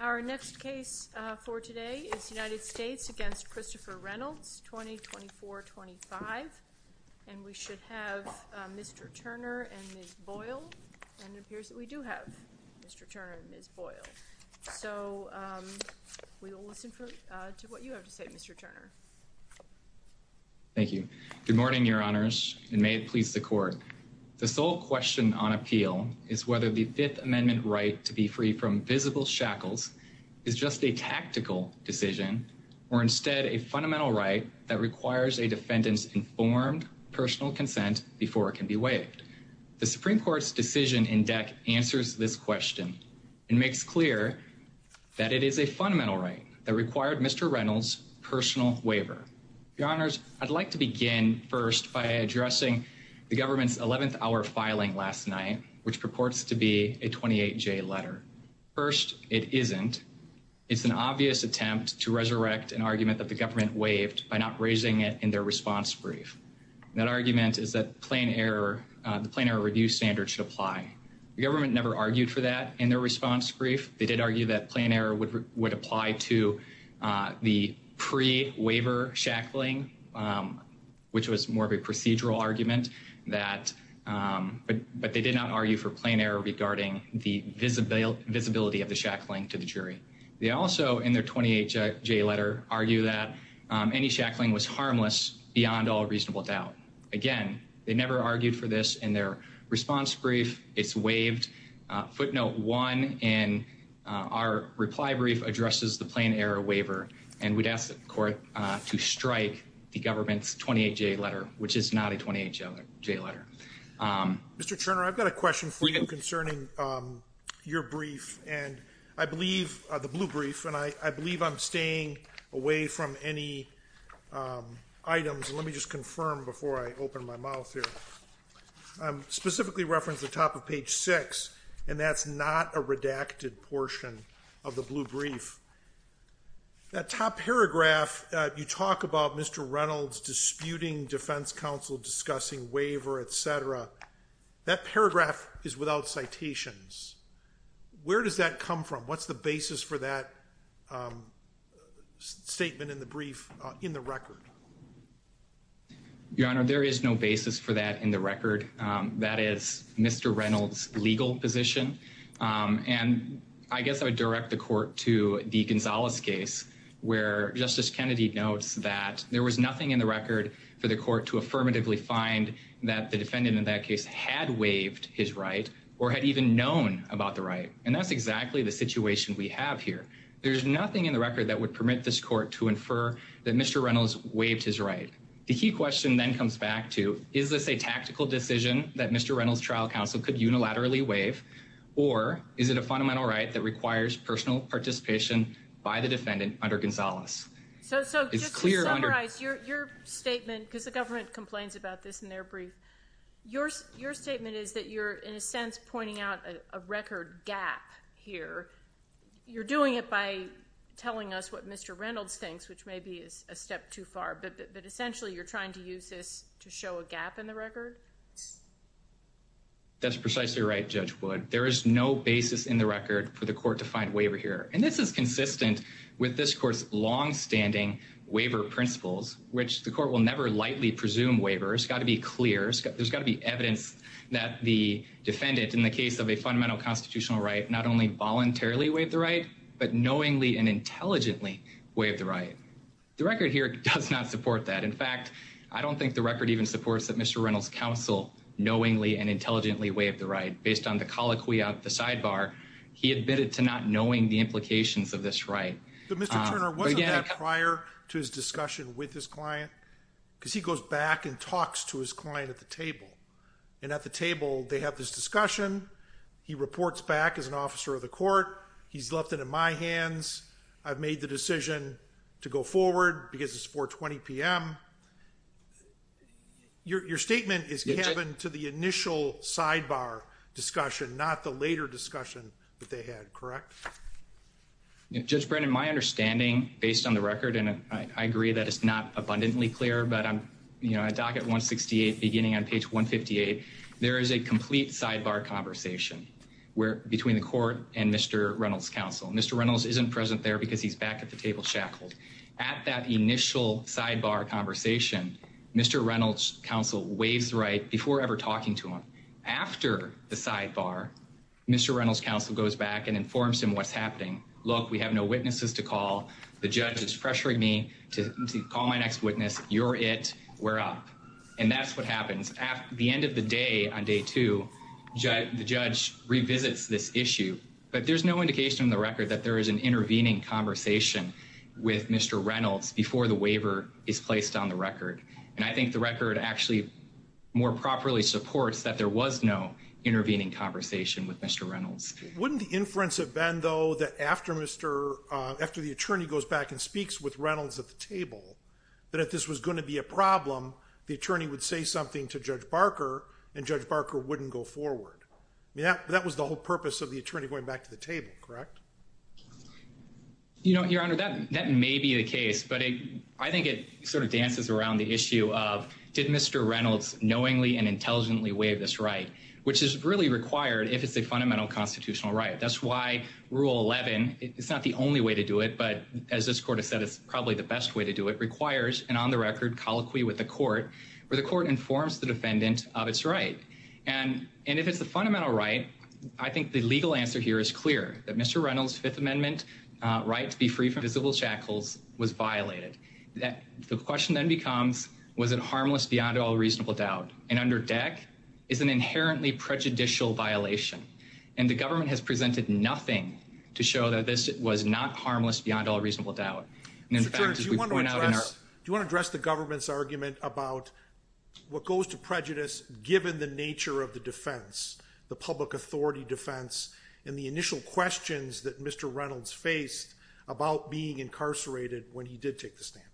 Our next case for today is United States v. Christopher Reynolds, 2024-25, and we should have Mr. Turner and Ms. Boyle, and it appears that we do have Mr. Turner and Ms. Boyle. So we will listen to what you have to say, Mr. Turner. Thank you. Good morning, Your Honors, and may it please the Court. The sole question on appeal is whether the Fifth Amendment right to be free from visible shackles is just a tactical decision or instead a fundamental right that requires a defendant's informed personal consent before it can be waived. The Supreme Court's decision in DEC answers this question and makes clear that it is a fundamental right that required Mr. Reynolds' personal waiver. Your Honors, I'd like to begin first by addressing the government's 11th-hour filing last night, which purports to be a 28-J letter. First, it isn't. It's an obvious attempt to resurrect an argument that the government waived by not raising it in their response brief. That argument is that the plain error review standard should apply. The government never argued for that in their response brief. They did argue that plain error would apply to the pre-waiver shackling, which was more of a procedural argument, but they did not argue for plain error regarding the visibility of the shackling to the jury. They also, in their 28-J letter, argue that any shackling was harmless beyond all reasonable doubt. Again, they never argued for this in their response brief. It's waived. Footnote one in our reply brief addresses the plain error waiver, and we'd ask the court to strike the government's 28-J letter, which is not a 28-J letter. Mr. Turner, I've got a question for you concerning your brief and I believe the blue brief, and I believe I'm staying away from any items. Let me just confirm before I open my mouth here. I specifically referenced the top of page six, and that's not a redacted portion of the blue brief. That top paragraph, you talk about Mr. Reynolds disputing defense counsel, discussing waiver, et cetera, that paragraph is without citations. Where does that come from? What's the basis for that statement in the brief in the record? Your Honor, there is no basis for that in the record. That is Mr. Reynolds' legal position, and I guess I would direct the court to the Gonzalez case where Justice Kennedy notes that there was nothing in the record for the court to affirmatively find that the defendant in that case had waived his right or had even known about the right, and that's exactly the situation we have here. There's nothing in the record that would permit this court to infer that Mr. Reynolds waived his right. The key question then comes back to, is this a tactical decision that Mr. Reynolds' trial counsel could unilaterally waive, or is it a fundamental right that requires personal participation by the defendant under Gonzalez? So just to summarize your statement, because the government complains about this in their brief, your statement is that you're, in a sense, pointing out a record gap here. You're doing it by telling us what Mr. Reynolds thinks, which may be a step too far, but essentially you're trying to use this to show a gap in the record? That's precisely right, Judge Wood. There is no basis in the record for the court to find waiver here, and this is consistent with this court's longstanding waiver principles, which the court will never lightly presume waiver. It's got to be clear. There's got to be evidence that the defendant in the case of a fundamental constitutional right not only voluntarily waived the right, but knowingly and intelligently waived the right. The record here does not support that. In fact, I don't think the record even supports that Mr. Reynolds' counsel knowingly and intelligently waived the right. Based on the colloquy out the sidebar, he admitted to not knowing the implications of this right. But, Mr. Turner, wasn't that prior to his discussion with his client, because he goes back and talks to his client at the table, and at the table they have this discussion, he reports back as an officer of the court, he's left it in my hands, I've made the decision to go forward because it's 4.20 p.m. Your statement is cabin to the initial sidebar discussion, not the later discussion that they had, correct? Judge Brennan, my understanding, based on the record, and I agree that it's not abundantly clear, but on docket 168, beginning on page 158, there is a complete sidebar conversation between the court and Mr. Reynolds' counsel. Mr. Reynolds isn't present there because he's back at the table shackled. At that initial sidebar conversation, Mr. Reynolds' counsel waives the right before ever talking to him. After the sidebar, Mr. Reynolds' counsel goes back and informs him what's happening. Look, we have no witnesses to call. The judge is pressuring me to call my next witness, you're it, we're up. And that's what happens. At the end of the day, on day two, the judge revisits this issue, but there's no indication on the record that there is an intervening conversation with Mr. Reynolds before the waiver is placed on the record. And I think the record actually more properly supports that there was no intervening conversation with Mr. Reynolds. Wouldn't the inference have been, though, that after Mr. after the attorney goes back and speaks with Reynolds at the table, that if this was going to be a problem, the attorney would say something to Judge Barker and Judge Barker wouldn't go forward. That was the whole purpose of the attorney going back to the table, correct? You know, Your Honor, that that may be the case, but I think it sort of dances around the issue of did Mr. Reynolds knowingly and intelligently waive this right, which is really required if it's a fundamental constitutional right. That's why Rule 11, it's not the only way to do it, but as this court has said, it's probably the best way to do it, requires an on-the-record colloquy with the court where the court informs the defendant of its right. And if it's the fundamental right, I think the legal answer here is clear, that Mr. Reynolds' Fifth Amendment right to be free from visible shackles was violated. The question then becomes, was it harmless beyond all reasonable doubt? And under deck is an inherently prejudicial violation. And the government has presented nothing to show that this was not harmless beyond all reasonable doubt. And in fact, as we point out in our- Mr. Terrence, do you want to address the government's argument about what goes to prejudice given the nature of the defense, the public authority defense, and the initial questions that Mr. Reynolds faced about being incarcerated when he did take the stand?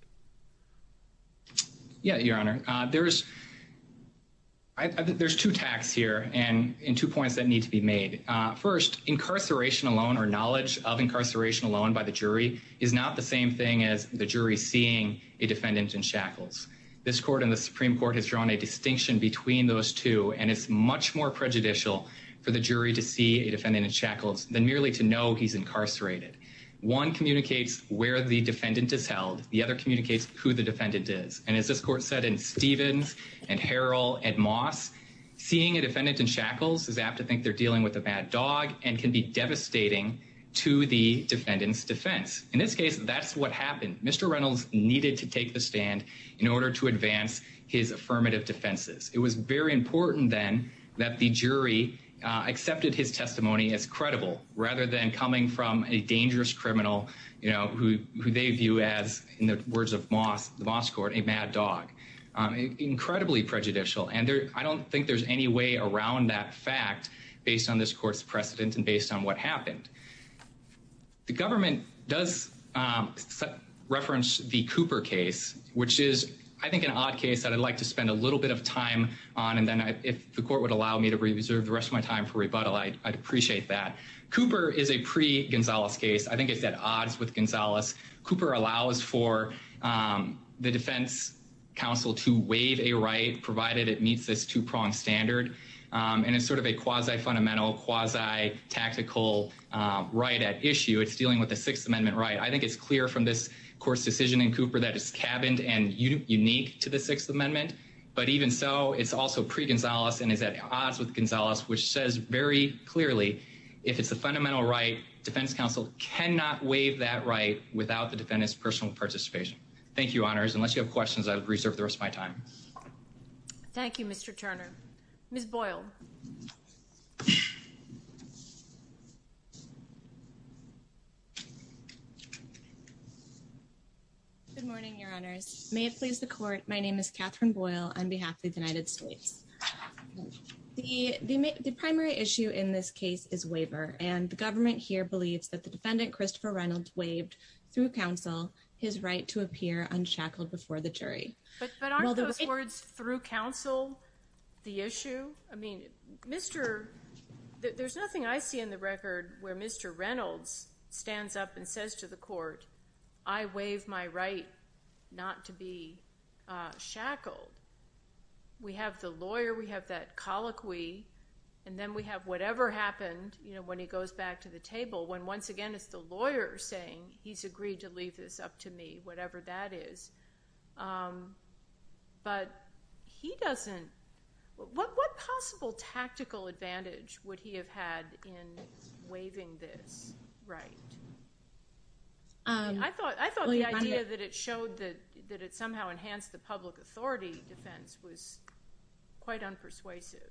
Yeah, Your Honor. There's two tacks here and two points that need to be made. First, incarceration alone or knowledge of incarceration alone by the jury is not the same thing as the jury seeing a defendant in shackles. This court and the Supreme Court has drawn a distinction between those two, and it's much more prejudicial for the jury to see a defendant in shackles than merely to know he's incarcerated. One communicates where the defendant is held. The other communicates who the defendant is. And as this court said in Stevens and Harrell and Moss, seeing a defendant in shackles is apt to think they're dealing with a bad dog and can be devastating to the defendant's defense. In this case, that's what happened. Mr. Reynolds needed to take the stand in order to advance his affirmative defenses. It was very important then that the jury accepted his testimony as credible rather than coming from a dangerous criminal who they view as, in the words of Moss, a mad dog. Incredibly prejudicial, and I don't think there's any way around that fact based on this court's precedent and based on what happened. The government does reference the Cooper case, which is, I think, an odd case that I'd like to spend a little bit of time on, and then if the court would allow me to reserve the rest of my time for rebuttal, I'd appreciate that. Cooper is a pre-Gonzalez case. I think it's at odds with Gonzalez. Cooper allows for the defense counsel to waive a right, provided it meets this two-prong standard, and it's sort of a quasi-fundamental, quasi-tactical right at issue. It's dealing with a Sixth Amendment right. I think it's clear from this court's decision in Cooper that it's cabined and unique to the Sixth Amendment, but even so, it's also pre-Gonzalez and is at odds with Gonzalez, which says very clearly, if it's a fundamental right, defense counsel cannot waive that right without the defendant's personal participation. Thank you, Honors. Unless you have questions, I'll reserve the rest of my time. Thank you, Mr. Turner. Ms. Boyle. Good morning, Your Honors. May it please the Court, my name is Catherine Boyle on behalf of the United States. The primary issue in this case is waiver, and the government here believes that the defendant, Christopher Reynolds, waived, through counsel, his right to appear unshackled before the jury. But aren't those words, through counsel, the issue? I mean, there's nothing I see in the record where Mr. Reynolds stands up and says to the court, I waive my right not to be shackled. We have the lawyer, we have that colloquy, and then we have whatever happened, you know, when he goes back to the table, when once again, it's the lawyer saying, he's agreed to leave this up to me, whatever that is. But he doesn't, what possible tactical advantage would he have had in waiving this right? I thought the idea that it showed that it somehow enhanced the public authority defense was quite unpersuasive.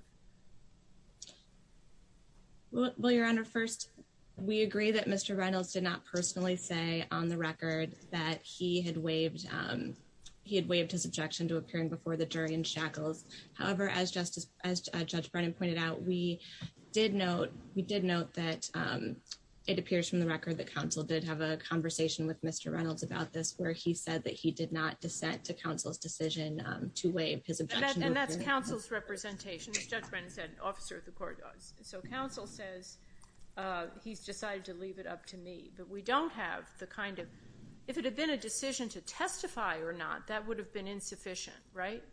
Well, Your Honor, first, we agree that Mr. Reynolds did not personally say on the record that he had waived his objection to appearing before the jury unshackled. However, as Judge Brennan pointed out, we did note that it appears from the record that counsel did have a conversation with Mr. Reynolds about this, where he said that he did not dissent to counsel's decision to waive his objection to appearing. And that's counsel's representation. As Judge Brennan said, an officer of the court does. So counsel says, he's decided to leave it up to me. But we don't have the kind of, if it had been a decision to testify or not, that would have been insufficient, right?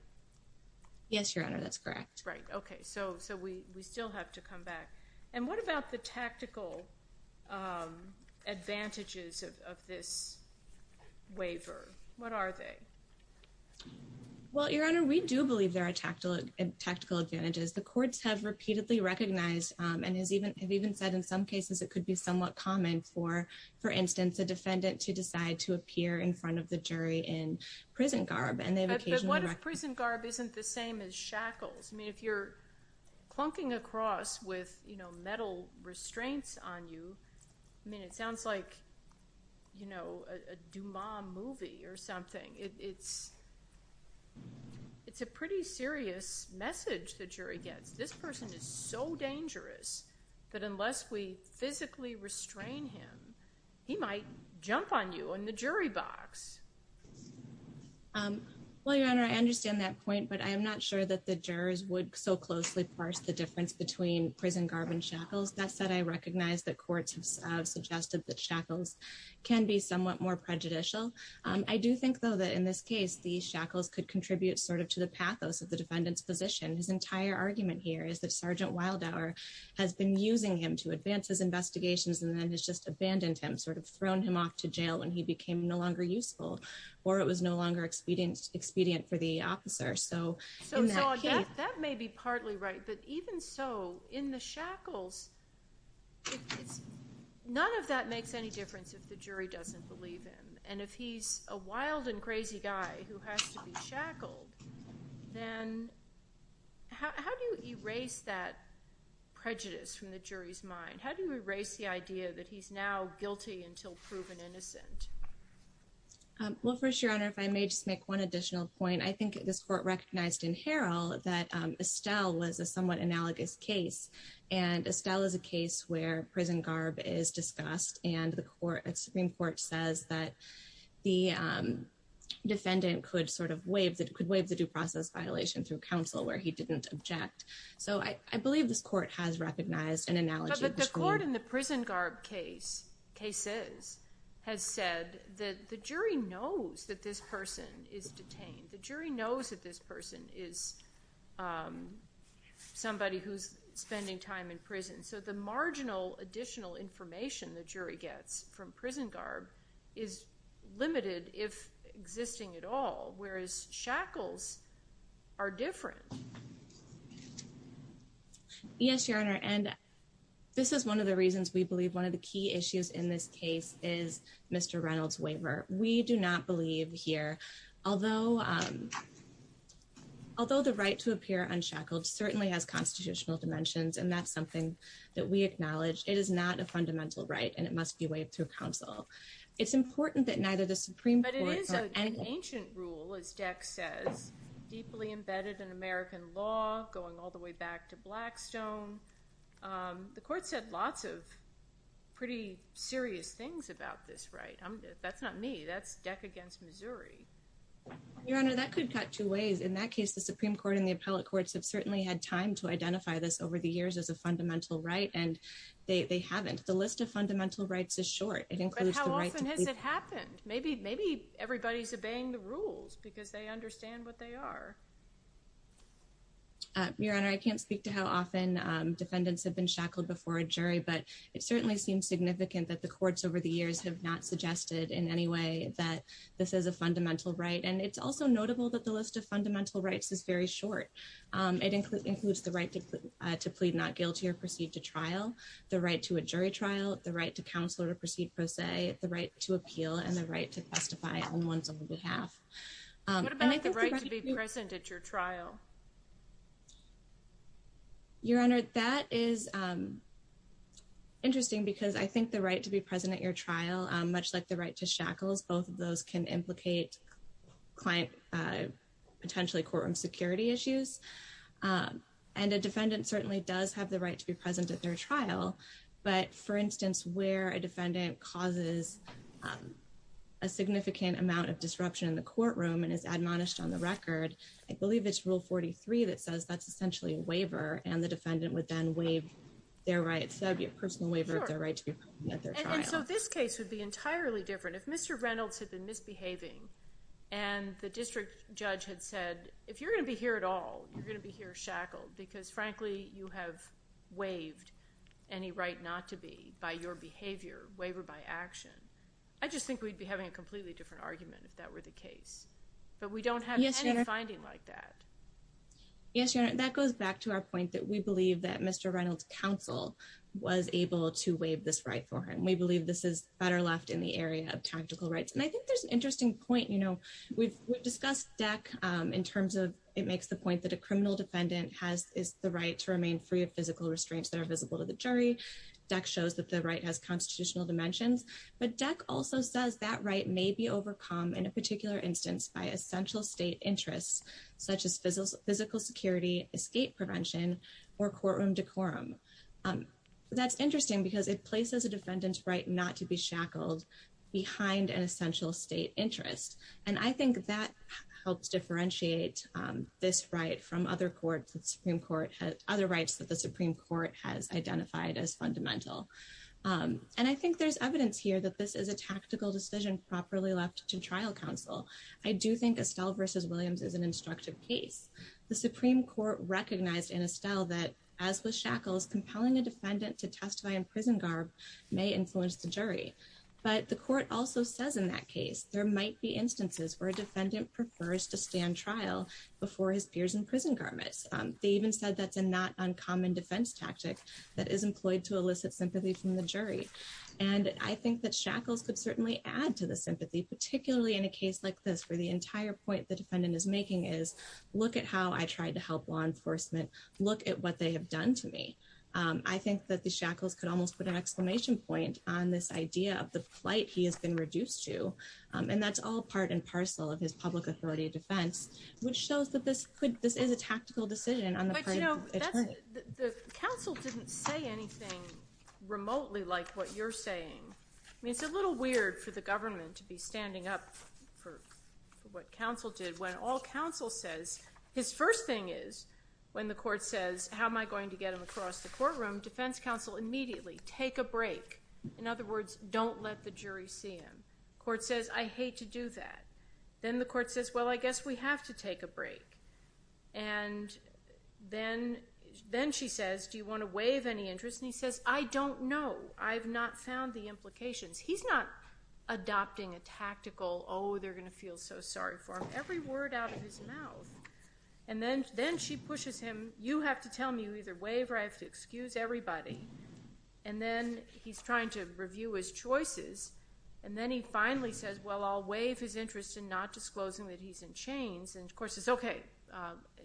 Yes, Your Honor, that's correct. Right. Okay. So we still have to come back. And what about the tactical advantages of this waiver? What are they? Well, Your Honor, we do believe there are tactical advantages. The courts have repeatedly recognized and have even said in some cases it could be somewhat common for, for instance, a defendant to decide to appear in front of the jury in prison garb. But what if prison garb isn't the same as shackles? I mean, if you're clunking across with, you know, metal restraints on you, I mean, it sounds like, you know, a Dumas movie or something. It's a pretty serious message the jury gets. This person is so dangerous that unless we physically restrain him, he might jump on you in the jury box. Well, Your Honor, I understand that point, but I am not sure that the jurors would so closely parse the difference between prison garb and shackles. That said, I recognize that courts have suggested that shackles can be somewhat more prejudicial. I do think, though, that in this case, the shackles could contribute sort of to the pathos of the defendant's position. His entire argument here is that Sergeant Wildhour has been using him to advance his investigations and then has just abandoned him, sort of thrown him off to jail when he became no longer useful or it was no longer expedient for the officer. So that may be partly right. But even so, in the shackles, none of that makes any difference if the jury doesn't believe him. And if he's a wild and crazy guy who has to be shackled, then how do you erase that prejudice from the jury's mind? How do you erase the idea that he's now guilty until proven innocent? Well, first, Your Honor, if I may just make one additional point, I think this court recognized in Harrell that Estelle was a somewhat analogous case, and Estelle is a case where prison garb is discussed and the Supreme Court says that the defendant could sort of waive the due process violation through counsel where he didn't object. So I believe this court has recognized an analogy. But the court in the prison garb case, case says, has said that the jury knows that this person is detained. The jury knows that this person is somebody who's spending time in prison. So the marginal additional information the jury gets from prison garb is limited, if shackles are different. Yes, Your Honor, and this is one of the reasons we believe one of the key issues in this case is Mr. Reynolds waiver. We do not believe here, although the right to appear unshackled certainly has constitutional dimensions. And that's something that we acknowledge. It is not a fundamental right and it must be waived through counsel. It's important that neither the Supreme Court. But it is an ancient rule, as Dex says, deeply embedded in American law, going all the way back to Blackstone. The court said lots of pretty serious things about this, right? That's not me. That's Dex against Missouri. Your Honor, that could cut two ways. In that case, the Supreme Court and the appellate courts have certainly had time to identify this over the years as a fundamental right. And they haven't. The list of fundamental rights is short. How often has it happened? Maybe maybe everybody's obeying the rules because they understand what they are. Your Honor, I can't speak to how often defendants have been shackled before a jury, but it certainly seems significant that the courts over the years have not suggested in any way that this is a fundamental right. And it's also notable that the list of fundamental rights is very short. It includes the right to plead not guilty or proceed to trial, the right to a jury trial, the right to counsel or proceed, per se, the right to appeal and the right to testify on one's behalf. What about the right to be present at your trial? Your Honor, that is interesting because I think the right to be present at your trial, much like the right to shackles, both of those can implicate client potentially courtroom security issues. And a defendant certainly does have the right to be present at their trial. But for instance, where a defendant causes a significant amount of disruption in the courtroom and is admonished on the record, I believe it's Rule 43 that says that's essentially a waiver and the defendant would then waive their right. So it would be a personal waiver of their right to be present at their trial. And so this case would be entirely different if Mr. Reynolds had been misbehaving and the district judge had said, if you're going to be here at all, you're going to be here shackled because, frankly, you have waived any right not to be by your behavior, waiver by action. I just think we'd be having a completely different argument if that were the case. But we don't have any finding like that. Yes, Your Honor, that goes back to our point that we believe that Mr. Reynolds counsel was able to waive this right for him. We believe this is better left in the area of tactical rights. And I think there's an interesting point. We've discussed DEC in terms of it makes the point that a criminal defendant has is the right to remain free of physical restraints that are visible to the jury. DEC shows that the right has constitutional dimensions. But DEC also says that right may be overcome in a particular instance by essential state interests such as physical security, escape prevention or courtroom decorum. That's interesting because it places a defendant's right not to be shackled behind an and I think that helps differentiate this right from other courts. The Supreme Court has other rights that the Supreme Court has identified as fundamental. And I think there's evidence here that this is a tactical decision properly left to trial counsel. I do think Estelle versus Williams is an instructive case. The Supreme Court recognized in Estelle that, as with shackles, compelling a defendant to testify in prison garb may influence the jury. But the court also says in that case, there might be instances where a defendant prefers to stand trial before his peers in prison garments. They even said that's a not uncommon defense tactic that is employed to elicit sympathy from the jury. And I think that shackles could certainly add to the sympathy, particularly in a case like this, where the entire point the defendant is making is, look at how I tried to help law enforcement look at what they have done to me. I think that the shackles could almost put an exclamation point on this idea of the plight he has been reduced to. And that's all part and parcel of his public authority defense, which shows that this could this is a tactical decision on the part of the attorney. The counsel didn't say anything remotely like what you're saying. I mean, it's a little weird for the government to be standing up for what counsel did when all counsel says his first thing is when the court says, how am I going to get him across the courtroom, defense counsel immediately take a break. In other words, don't let the jury see him. Court says, I hate to do that. Then the court says, well, I guess we have to take a break. And then then she says, do you want to waive any interest? And he says, I don't know. I've not found the implications. He's not adopting a tactical, oh, they're going to feel so sorry for him. Every word out of his mouth. And then then she pushes him, you have to tell me you either waive or I have to excuse everybody. And then he's trying to review his choices. And then he finally says, well, I'll waive his interest in not disclosing that he's in chains. And of course, it's OK.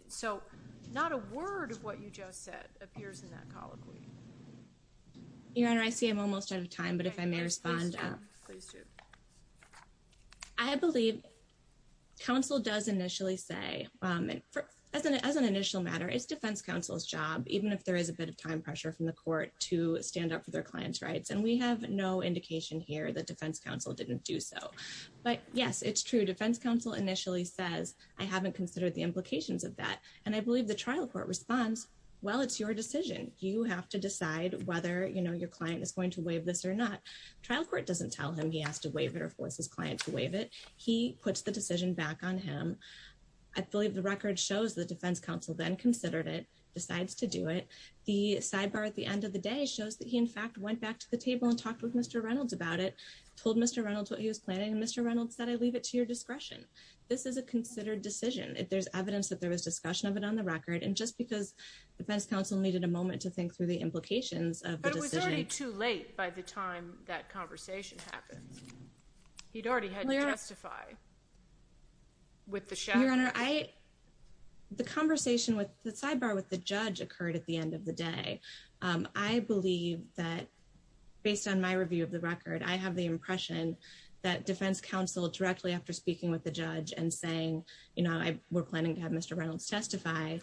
So not a word of what you just said appears in that colloquy. Your Honor, I see I'm almost out of time, but if I may respond, please do. I believe counsel does initially say, as an as an initial matter, it's defense counsel's job, even if there is a bit of time pressure from the court to stand up for their clients' rights. And we have no indication here that defense counsel didn't do so. But yes, it's true. Defense counsel initially says, I haven't considered the implications of that. And I believe the trial court responds, well, it's your decision. You have to decide whether your client is going to waive this or not. Trial court doesn't tell him he has to waive it or force his client to waive it. He puts the decision back on him. I believe the record shows the defense counsel then considered it, decides to do it. The sidebar at the end of the day shows that he, in fact, went back to the table and talked with Mr. Reynolds about it, told Mr. Reynolds what he was planning. Mr. Reynolds said, I leave it to your discretion. This is a considered decision. There's evidence that there was discussion of it on the record. And just because the defense counsel needed a moment to think through the implications of the decision. But it was already too late by the time that conversation happened. He'd already had to testify. With the shadow. Your Honor, the conversation with the sidebar with the judge occurred at the end of the day. I believe that based on my review of the record, I have the impression that defense counsel directly after speaking with the judge and saying, you know, we're planning to have Mr. Reynolds testify.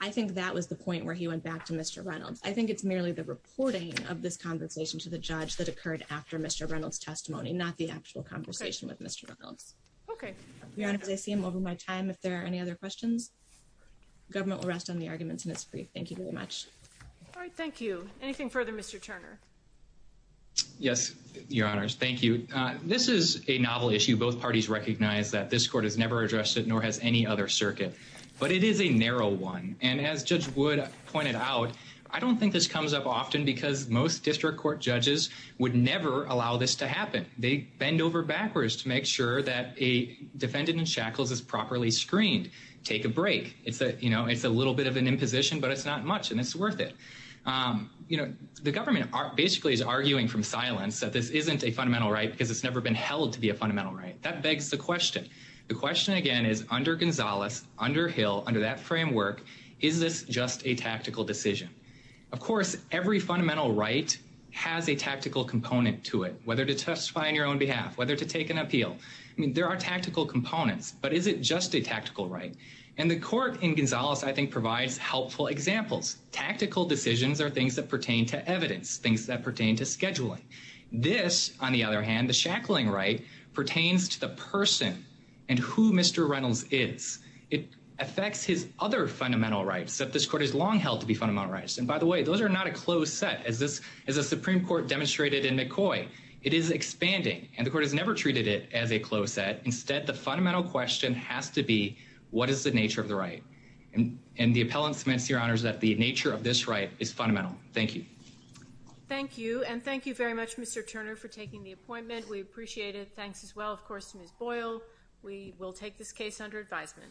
I think that was the point where he went back to Mr. Reynolds. I think it's merely the reporting of this conversation to the judge that occurred after Mr. Reynolds testimony, not the actual conversation with Mr. Reynolds. Okay. Your Honor, I see him over my time. If there are any other questions, government will rest on the arguments in this brief. Thank you very much. All right. Thank you. Anything further, Mr. Turner? Yes, Your Honor. Thank you. This is a novel issue. Both parties recognize that this court has never addressed it, nor has any other circuit. But it is a narrow one. And as Judge Wood pointed out, I don't think this comes up often because most district court judges would never allow this to happen. They bend over backwards to make sure that a defendant in shackles is properly screened. Take a break. It's a you know, it's a little bit of an imposition, but it's not much and it's worth it. You know, the government basically is arguing from silence that this isn't a fundamental right because it's never been held to be a fundamental right. That begs the question. The question again is under Gonzalez, under Hill, under that framework, is this just a tactical decision? Of course, every fundamental right has a tactical component to it, whether to testify on your own behalf, whether to take an appeal. I mean, there are tactical components, but is it just a tactical right? And the court in Gonzalez, I think, provides helpful examples. Tactical decisions are things that pertain to evidence, things that pertain to scheduling. This, on the other hand, the shackling right pertains to the person and who Mr. Reynolds is. It affects his other fundamental rights that this court has long held to be fundamental rights. And by the way, those are not a closed set as this is a Supreme Court demonstrated in McCoy. It is expanding and the court has never treated it as a closed set. Instead, the fundamental question has to be what is the nature of the right? And the appellant cements, Your Honors, that the nature of this right is fundamental. Thank you. Thank you. And thank you very much, Mr. Turner, for taking the appointment. We appreciate it. Thanks as well, of course, to Ms. We will take this case under advisement.